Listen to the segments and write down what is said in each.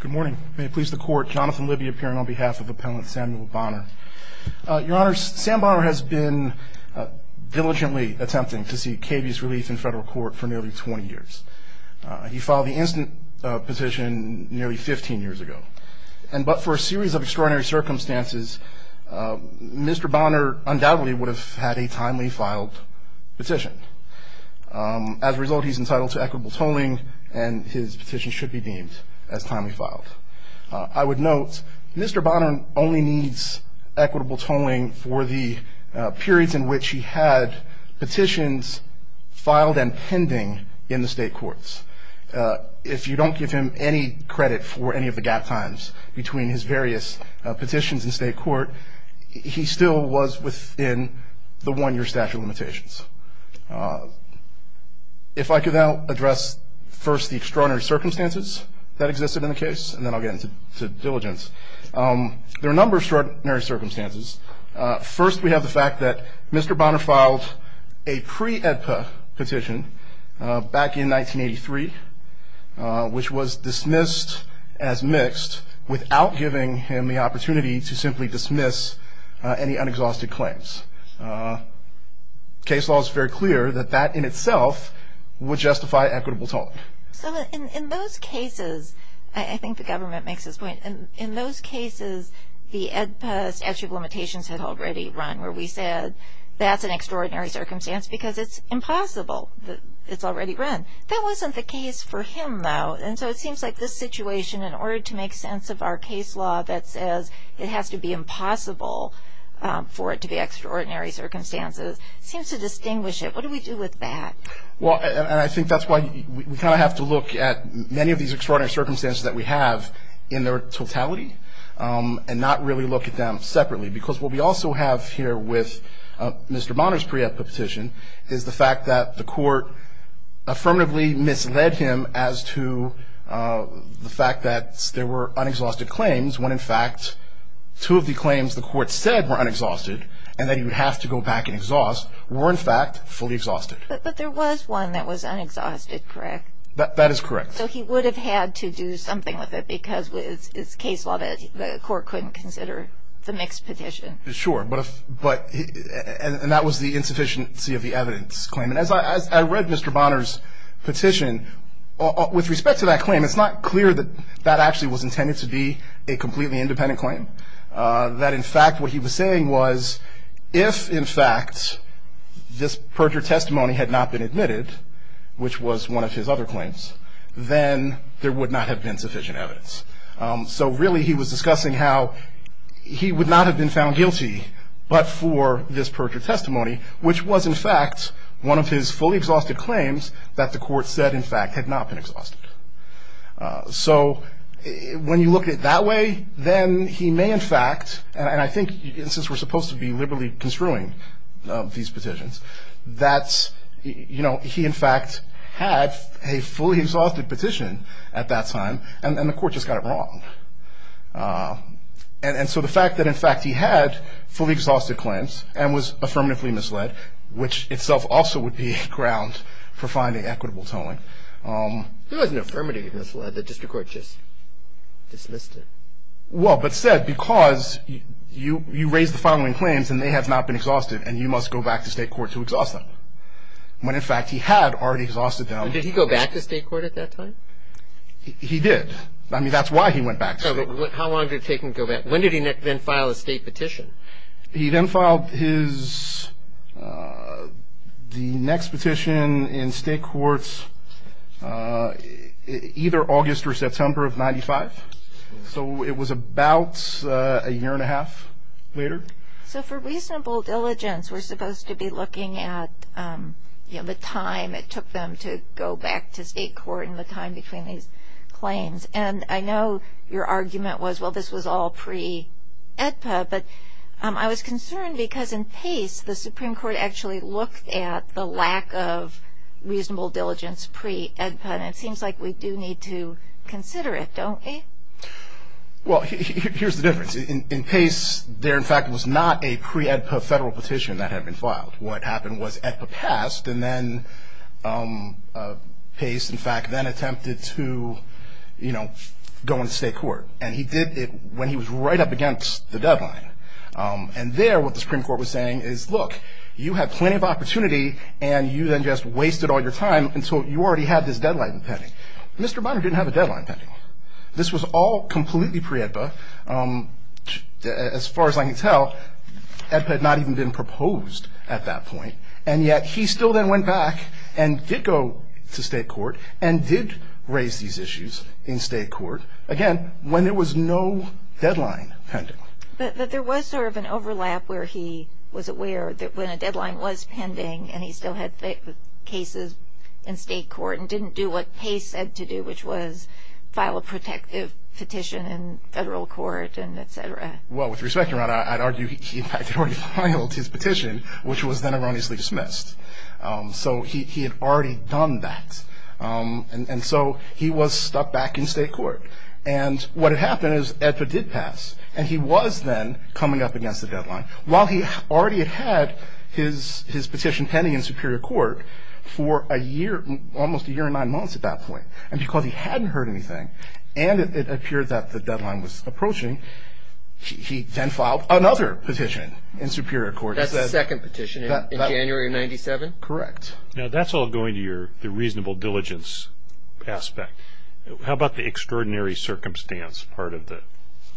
Good morning. May it please the court, Jonathan Libby appearing on behalf of appellant Samuel Bonner. Your honor, Sam Bonner has been diligently attempting to seek cabious relief in federal court for nearly 20 years. He filed the instant petition nearly 15 years ago and but for a series of extraordinary circumstances Mr. Bonner undoubtedly would have had a timely filed petition. As a result he's deemed as timely filed. I would note Mr. Bonner only needs equitable tolling for the periods in which he had petitions filed and pending in the state courts. If you don't give him any credit for any of the gap times between his various petitions in state court he still was within the one-year statute of that existed in the case and then I'll get into diligence. There are a number of extraordinary circumstances. First we have the fact that Mr. Bonner filed a pre-EDPA petition back in 1983 which was dismissed as mixed without giving him the opportunity to simply dismiss any unexhausted claims. Case law is very clear that that in itself would justify equitable tolling. So in those cases I think the government makes this point and in those cases the EDPA statute of limitations had already run where we said that's an extraordinary circumstance because it's impossible that it's already run. That wasn't the case for him though and so it seems like this situation in order to make sense of our case law that says it has to be impossible for it to be extraordinary circumstances seems to distinguish it. What do we do with that? Well and I think that's why we kind of have to look at many of these extraordinary circumstances that we have in their totality and not really look at them separately because what we also have here with Mr. Bonner's pre-EDPA petition is the fact that the court affirmatively misled him as to the fact that there were unexhausted claims when in fact two of the claims the court said were to go back and exhaust were in fact fully exhausted. But there was one that was unexhausted correct? That is correct. So he would have had to do something with it because with this case law that the court couldn't consider the mixed petition. Sure but if but and that was the insufficiency of the evidence claim and as I read Mr. Bonner's petition with respect to that claim it's not clear that that actually was intended to be a completely independent claim. That in fact what he was saying was if in fact this perjured testimony had not been admitted which was one of his other claims then there would not have been sufficient evidence. So really he was discussing how he would not have been found guilty but for this perjured testimony which was in fact one of his fully exhausted claims that the court said in fact had not been exhausted. So when you look at it that way then he may in fact and I think since we're supposed to be liberally construing these petitions that's you know he in fact had a fully exhausted petition at that time and then the court just got it wrong. And so the fact that in fact he had fully exhausted claims and was affirmatively misled which itself also would be ground for finding equitable tolling. He wasn't affirmatively misled, the district court just dismissed it. Well but said because you you raised the following claims and they have not been exhausted and you must go back to state court to exhaust them. When in fact he had already exhausted them. Did he go back to state court at that time? He did. I mean that's why he went back. How long did it take him to go back? When did he then file a state petition? He then filed a state petition in state courts either August or September of 95. So it was about a year and a half later. So for reasonable diligence we're supposed to be looking at you know the time it took them to go back to state court and the time between these claims. And I know your argument was well this was all pre-EDPA but I was of reasonable diligence pre-EDPA and it seems like we do need to consider it don't we? Well here's the difference. In Pace there in fact was not a pre-EDPA federal petition that had been filed. What happened was EDPA passed and then Pace in fact then attempted to you know go into state court. And he did it when he was right up against the deadline. And there what the Supreme Court was saying is look you have plenty of opportunity and you then just wasted all your time until you already had this deadline pending. Mr. Bonner didn't have a deadline pending. This was all completely pre-EDPA. As far as I can tell EDPA had not even been proposed at that point and yet he still then went back and did go to state court and did raise these issues in state court again when there was no overlap where he was aware that when a deadline was pending and he still had cases in state court and didn't do what Pace said to do which was file a protective petition in federal court and etc. Well with respect your honor I'd argue he had already filed his petition which was then erroneously dismissed. So he had already done that and so he was stuck back in state court. And what happened is EDPA did pass and he was then coming up against the deadline. While he already had his his petition pending in Superior Court for a year almost a year and nine months at that point and because he hadn't heard anything and it appeared that the deadline was approaching he then filed another petition in Superior Court. That's the second petition in January of 97? Correct. Now that's all going to your the reasonable diligence aspect. How about the extraordinary circumstance part of the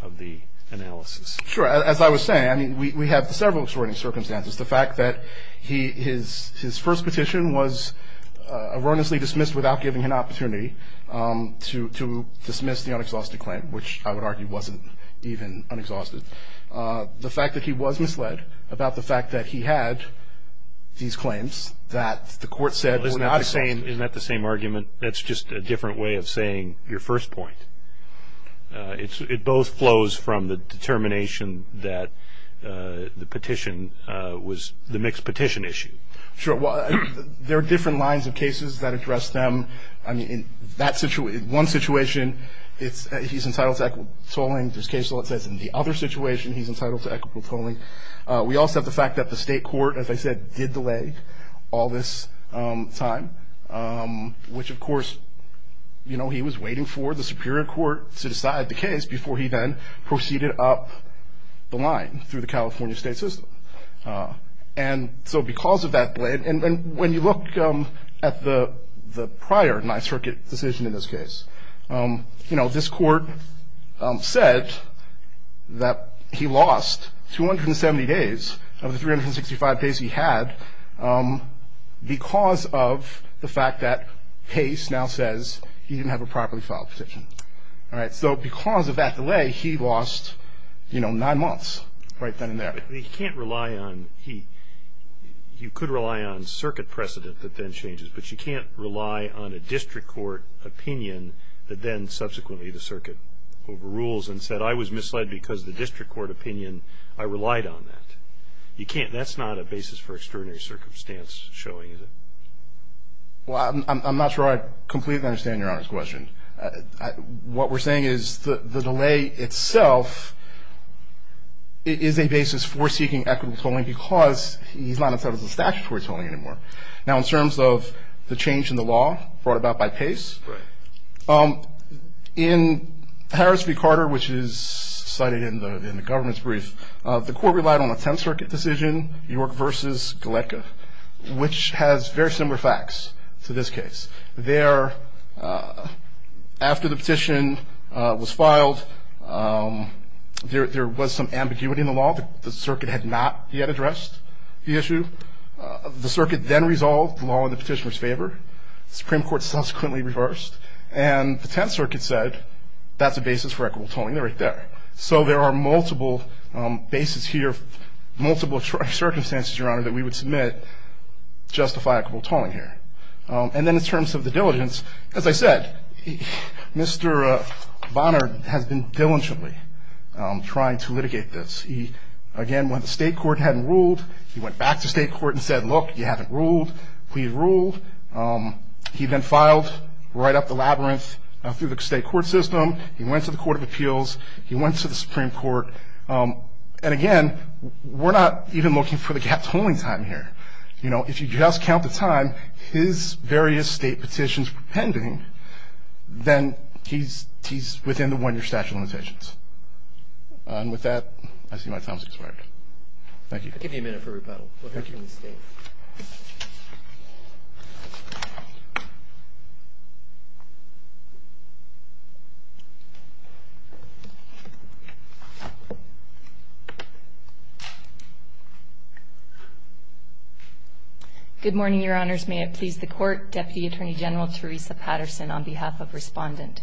of the analysis? Sure as I was saying I mean we have several extraordinary circumstances. The fact that he his his first petition was erroneously dismissed without giving an opportunity to to dismiss the unexhausted claim which I would argue wasn't even unexhausted. The fact that he was misled about the fact that he had these claims that the court said were not the same. Isn't that the same argument? That's just a different way of looking at the first point. It's it both flows from the determination that the petition was the mixed petition issue. Sure well there are different lines of cases that address them. I mean in that situation one situation it's he's entitled to equitable tolling. There's cases where it says in the other situation he's entitled to equitable tolling. We also have the fact that the state court as I said did delay all this time which of course you know he was waiting for the Superior Court to decide the case before he then proceeded up the line through the California state system. And so because of that delay and when you look at the the prior ninth circuit decision in this case you know this court said that he lost 270 days of 365 days he had because of the fact that Pace now says he didn't have a properly filed petition. All right so because of that delay he lost you know nine months right then and there. He can't rely on he you could rely on circuit precedent that then changes but you can't rely on a district court opinion that then subsequently the circuit overrules and said I was misled because of the district court opinion I relied on that. You can't that's not a basis for extraordinary circumstance showing is it? Well I'm not sure I completely understand your honor's question. What we're saying is the delay itself is a basis for seeking equitable tolling because he's not entitled to statutory tolling anymore. Now in terms of the change in the law brought about by Pace in Harris v. in the government's brief the court relied on a 10th circuit decision York versus Galecki which has very similar facts to this case. There after the petition was filed there was some ambiguity in the law the circuit had not yet addressed the issue. The circuit then resolved the law in the petitioner's favor. Supreme Court subsequently reversed and the 10th circuit said that's basis for equitable tolling. They're right there. So there are multiple basis here multiple circumstances your honor that we would submit justify equitable tolling here. And then in terms of the diligence as I said Mr. Bonner has been diligently trying to litigate this. He again when the state court hadn't ruled he went back to state court and said look you haven't ruled we ruled. He then filed right up the labyrinth through the state court system. He went to the court of appeals. He went to the Supreme Court and again we're not even looking for the gap tolling time here. You know if you just count the time his various state petitions were pending then he's he's within the one year statute of limitations. And with that I see my time has expired. Thank you. I'll give you a minute for rebuttal. Good morning your honors. May it please the court. Deputy Attorney General Teresa Patterson on behalf of respondent.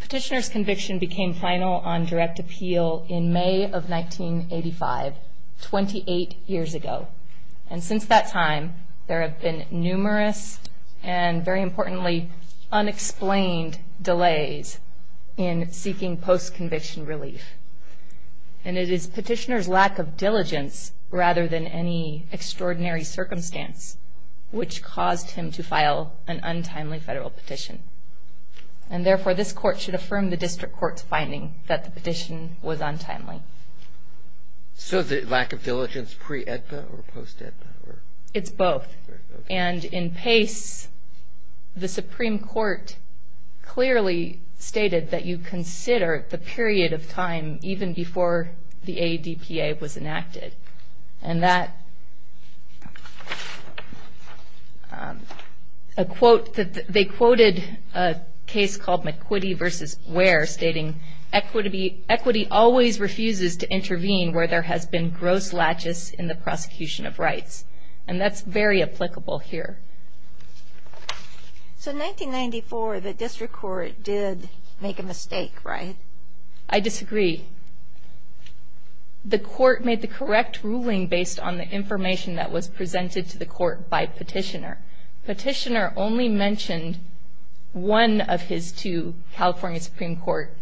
Petitioner's conviction became final on direct appeal in May of 1985, 28 years ago. And since that time there have been numerous and very importantly unexplained delays in seeking post conviction relief. And it is petitioner's lack of diligence rather than any extraordinary circumstance which caused him to file an untimely federal petition. And therefore this court should affirm the district court's finding that the petition was untimely. So the lack of diligence pre-EDPA or post-EDPA? It's both. And in pace the Supreme Court clearly stated that you consider the period of time even before the ADPA was enacted. And that a quote that they quoted a case called McQuitty versus Ware stating equity always refuses to intervene where there has been gross latches in the prosecution of rights. And that's very applicable here. So 1994 the district court did make a mistake right? I disagree. The court made the correct ruling based on the information that was presented to the court by petitioner. Petitioner only mentioned one of his two California Supreme Court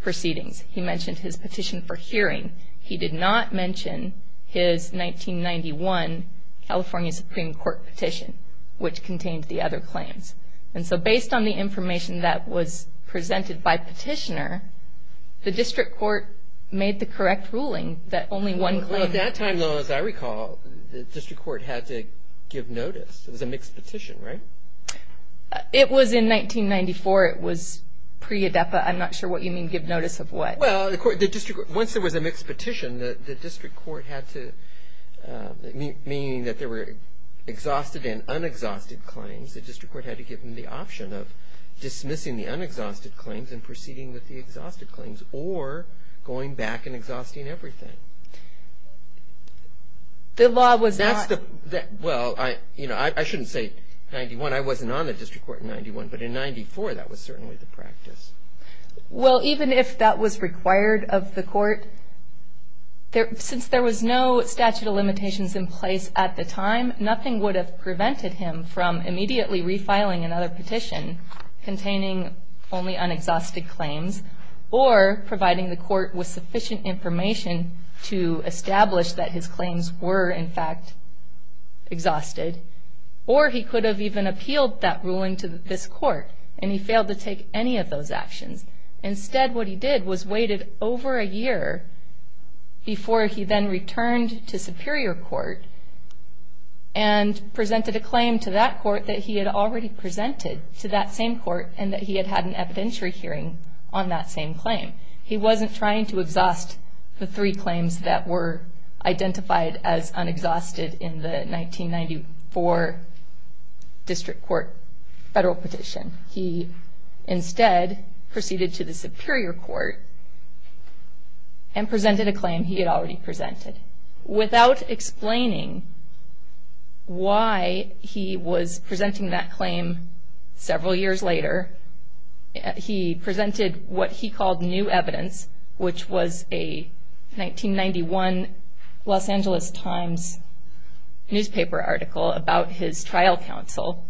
proceedings. He mentioned his petition for hearing. He did not mention his 1991 California Supreme Court petition, which contained the other claims. And so based on the information that was presented by petitioner, the district court made the correct ruling that only one claim. Well at that time, as I recall, the district court had to give notice. It was a mixed petition, right? It was in 1994. It was pre-EDPA. I'm not sure what you mean give notice of what. Well, once there was a mixed petition, the district court had to, meaning that there were exhausted and unexhausted claims, the district court had to give them the option of dismissing the unexhausted claims and proceeding with the exhausted claims or going back and refiling another petition. The law was not. Well, I, you know, I shouldn't say 91. I wasn't on the district court in 91, but in 94, that was certainly the practice. Well, even if that was required of the court, there, since there was no statute of limitations in place at the time, nothing would have prevented him from immediately refiling another petition containing only unexhausted claims or providing the court with sufficient information to establish that his claims were, in fact, exhausted, or he could have even appealed that ruling to this court and he failed to take any of those actions. Instead, what he did was waited over a year before he then returned to Superior Court and presented a claim to that court that he had already presented to that same court and that he had had an evidentiary hearing on that same claim. He wasn't trying to exhaust the three claims that were identified as unexhausted in the 1994 district court federal petition. He instead proceeded to the Superior Court and presented a claim he had already presented without explaining why he was he presented what he called new evidence, which was a 1991 Los Angeles Times newspaper article about his trial counsel.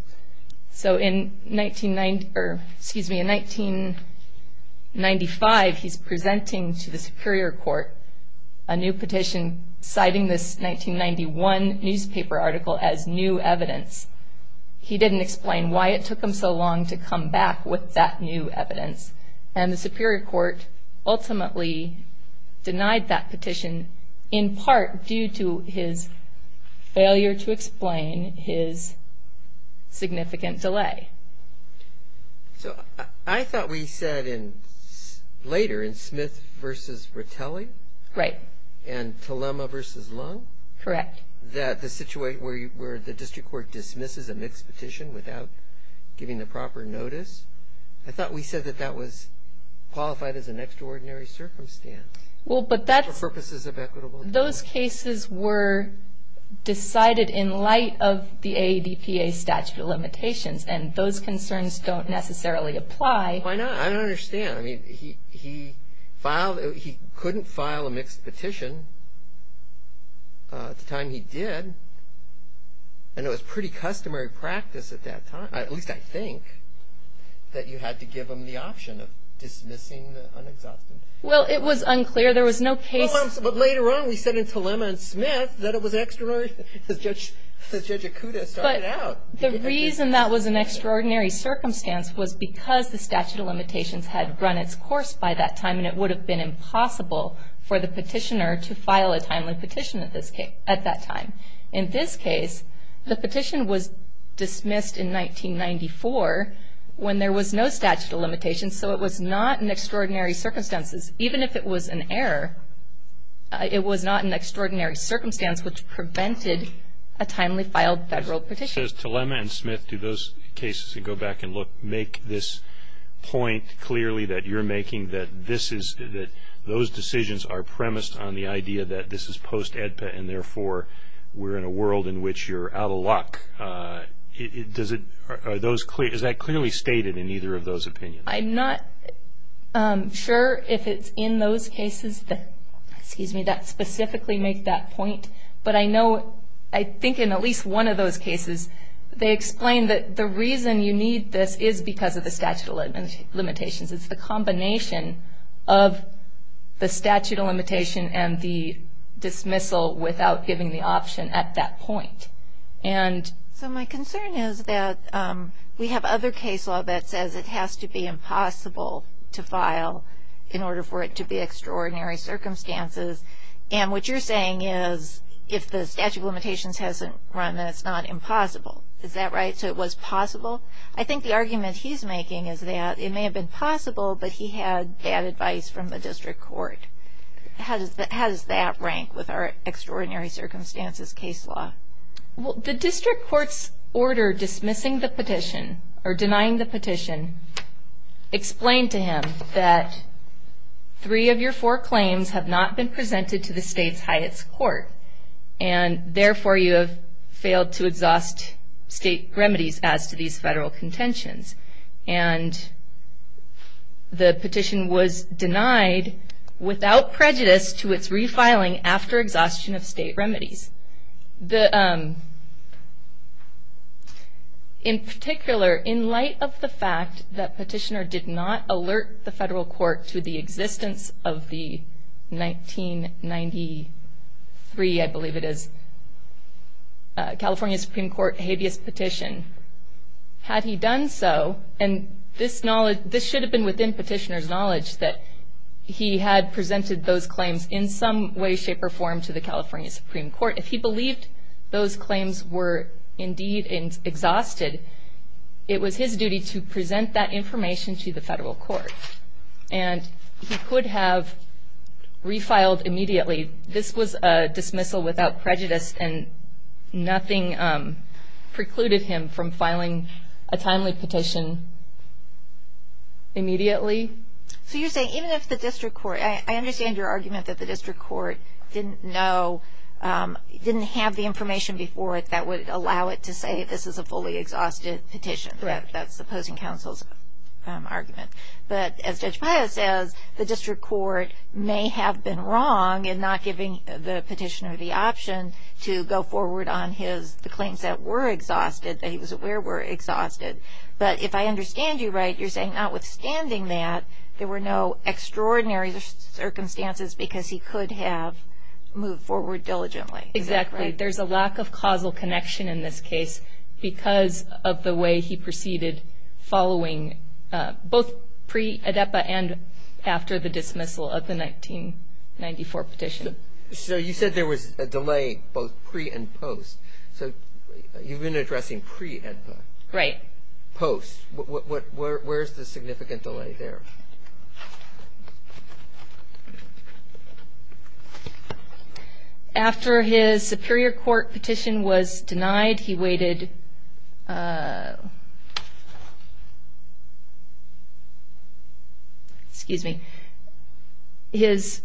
So in 1990, or excuse me, in 1995, he's presenting to the Superior Court a new petition citing this 1991 newspaper article as new evidence. He didn't explain why it took him so long to come back with that new evidence. And the Superior Court ultimately denied that petition in part due to his failure to explain his significant delay. So I thought we said in later in Smith versus Rattelli? Right. And Telema versus Lung? Correct. That the situation where the district court dismisses a mixed petition without giving the proper notice. I thought we said that that was qualified as an extraordinary circumstance. Well, but that's... For purposes of equitable... Those cases were decided in light of the AADPA statute of limitations, and those concerns don't necessarily apply. Why not? I don't understand. I mean, he filed... he couldn't file a mixed petition at the time he did, and it was pretty customary practice at that time, at least I think, that you had to give him the option of dismissing the unexamined. Well, it was unclear. There was no case... Well, but later on, we said in Telema and Smith that it was extraordinary, since Judge Acuda started out. The reason that was an extraordinary circumstance was because the statute of limitations had run its course by that time, and it would have been impossible for the petitioner to file a timely petition at this case... at that time. In this case, the petition was dismissed in 1994 when there was no statute of limitations, so it was not an extraordinary circumstances. Even if it was an error, it was not an extraordinary circumstance, which prevented a timely filed federal petition. It says Telema and Smith, do those cases, and go back and look, make this point clearly that you're making that this is... that those decisions are premised on the idea that this is post-AEDPA, and therefore, we're in a world in which you're out of luck. Does it... are those clear... is that clearly stated in either of those opinions? I'm not sure if it's in those cases that, excuse me, that specifically make that point, but I know, I think in at least one of those cases, they explain that the reason you need this is because of the statute of limitations. It's the combination of the statute of limitation and the dismissal without giving the option at that point, and... So, my concern is that we have other case law that says it has to be impossible to file in order for it to be extraordinary circumstances, and what you're saying is, if the statute of limitations hasn't run, then it's not possible. Is that right? So, it was possible? I think the argument he's making is that it may have been possible, but he had bad advice from the district court. How does that rank with our extraordinary circumstances case law? Well, the district court's order dismissing the petition, or denying the petition, explained to him that three of your four claims have not been state remedies as to these federal contentions, and the petition was denied without prejudice to its refiling after exhaustion of state remedies. In particular, in light of the fact that petitioner did not alert the federal court habeas petition, had he done so, and this should have been within petitioner's knowledge that he had presented those claims in some way, shape, or form to the California Supreme Court, if he believed those claims were indeed exhausted, it was his duty to present that information to the federal court, and he could have refiled immediately. This was a dismissal without prejudice, and nothing precluded him from filing a timely petition immediately. So, you're saying, even if the district court, I understand your argument that the district court didn't know, didn't have the information before it that would allow it to say this is a fully exhausted petition. That's the opposing counsel's argument. But, as Judge Paya says, the district court may have been wrong in not giving the petitioner the option to go forward on his, the claims that were exhausted, that he was aware were exhausted. But, if I understand you right, you're saying notwithstanding that, there were no extraordinary circumstances because he could have moved forward diligently. Exactly. There's a lack of causal connection in this case because of the way he proceeded following, both pre-AEDPA and after the dismissal of the 1994 petition. So, you said there was a delay both pre and post. So, you've been addressing pre-AEDPA. Right. Post. What, where's the significant delay there? After his superior court petition was denied, he waited, excuse me, his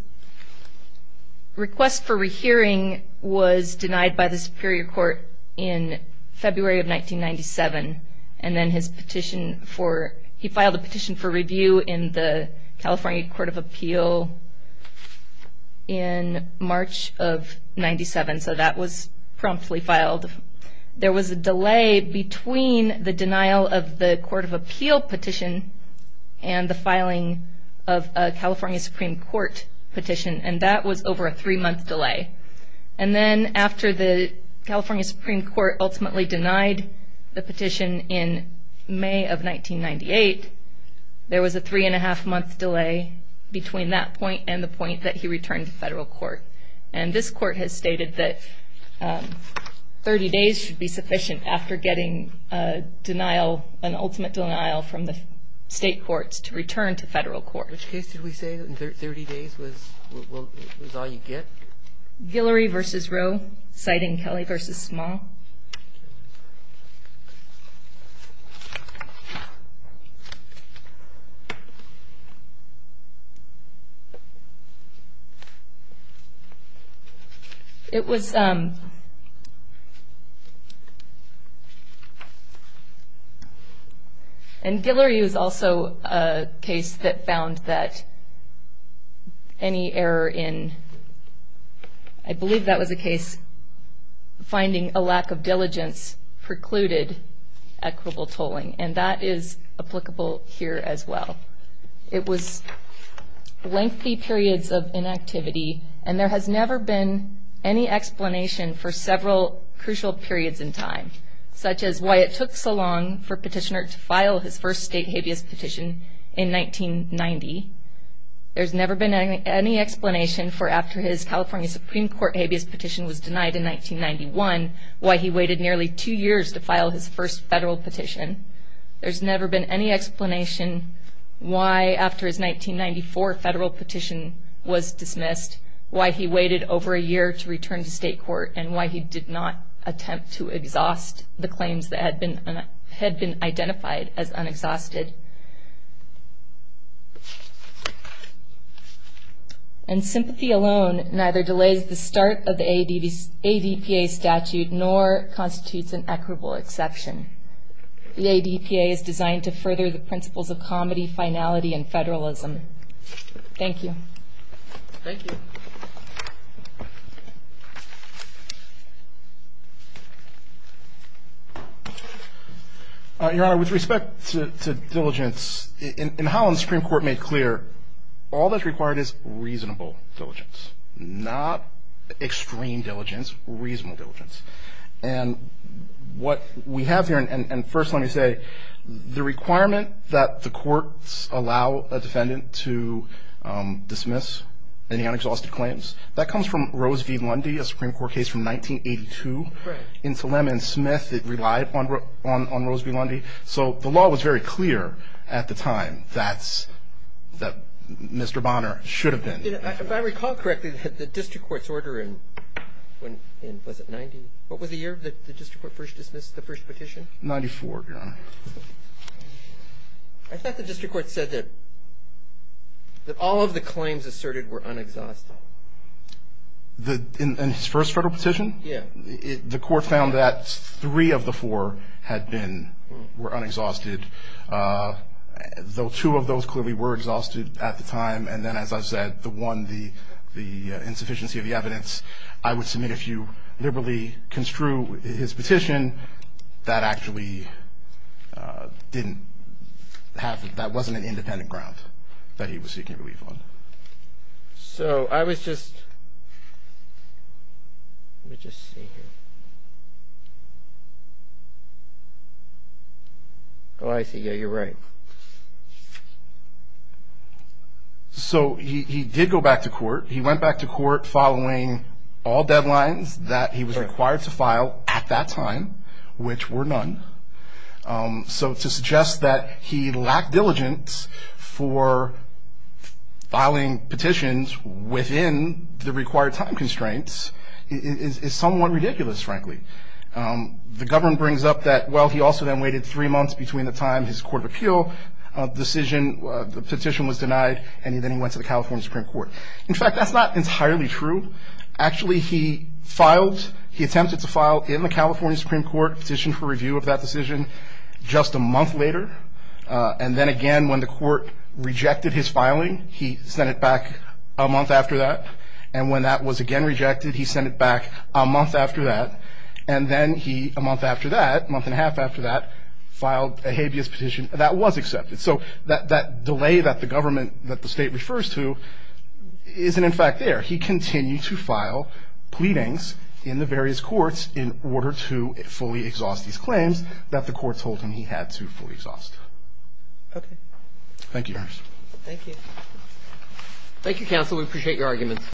request for re-hearing was denied by the superior court in February of 1997. And then his petition for, he filed a petition for review in the California Court of Appeal in March of 97. So, that was promptly filed. There was a delay between the denial of the Court of Appeal petition and the filing of a California Supreme Court petition. And that was over a three-month delay. And then after the California Supreme Court ultimately denied the petition in May of 1998, there was a three-and-a-half-month delay between that point and the point that he returned to federal court. And this court has stated that 30 days should be sufficient after getting a denial, an ultimate denial from the state courts to return to federal court. Which case did we say that 30 days was all you get? Guillory v. Roe, citing Kelly v. Small. It was, and Guillory was also a case that found that any error in, I believe that was a case, finding a lack of diligence precluded equitable tolling. And that is applicable here as well. It was lengthy periods of inactivity and there has never been any explanation for several crucial periods in time. Such as why it took so long for petitioner to file his first state habeas petition in 1990. There's never been any explanation for after his California Supreme Court habeas petition was denied in 1991, why he waited nearly two years to file his first federal petition. There's never been any explanation why after his 1994 federal petition was dismissed, why he waited over a year to return to state court, and why he did not attempt to exhaust the claims that had been ADPA statute, nor constitutes an equitable exception. The ADPA is designed to further the principles of comedy, finality, and federalism. Thank you. Thank you. Your Honor, with respect to diligence, in Holland, the Supreme Court made clear all that's required is reasonable diligence, not extreme diligence, reasonable diligence. And what we have here, and first let me say, the requirement that the courts allow a defendant to dismiss any unexhausted claims, that comes from Rose v. Lundy, a Supreme Court case from 1982. Into Lemon and Smith, it relied on Rose v. Lundy. So the law was very clear at the time that Mr. Bonner should have been. If I recall correctly, the district court's order in, was it 90? What was the year that the district court first dismissed the first petition? 94, Your Honor. I thought the district court said that all of the claims asserted were unexhausted. In his first federal petition? Yeah. The court found that three of the four had been, were unexhausted, though two of those clearly were exhausted at the time. And then as I've said, the one, the insufficiency of the evidence, I would submit if you liberally construe his petition, that actually didn't have, that wasn't an independent ground that he was seeking relief on. So I was just, let me just see here. Oh, I see. Yeah, you're right. So he did go back to court. He went back to court following all deadlines that he was required to file at that time, which were none. So to suggest that he lacked diligence for filing petitions within the required time constraints is somewhat ridiculous, frankly. The government brings up that, well, he also then waited three months between the time his court of appeal decision, the petition was denied, and then he went to the California Supreme Court. In fact, that's not entirely true. Actually, he filed, he attempted to file in that decision just a month later. And then again, when the court rejected his filing, he sent it back a month after that. And when that was again rejected, he sent it back a month after that. And then he, a month after that, a month and a half after that, filed a habeas petition that was accepted. So that delay that the government, that the state refers to, isn't in fact there. He continued to file pleadings in the various courts in order to fully exhaust these claims that the court told him he had to fully exhaust. Okay. Thank you, Your Honor. Thank you. Thank you, counsel. We appreciate your arguments.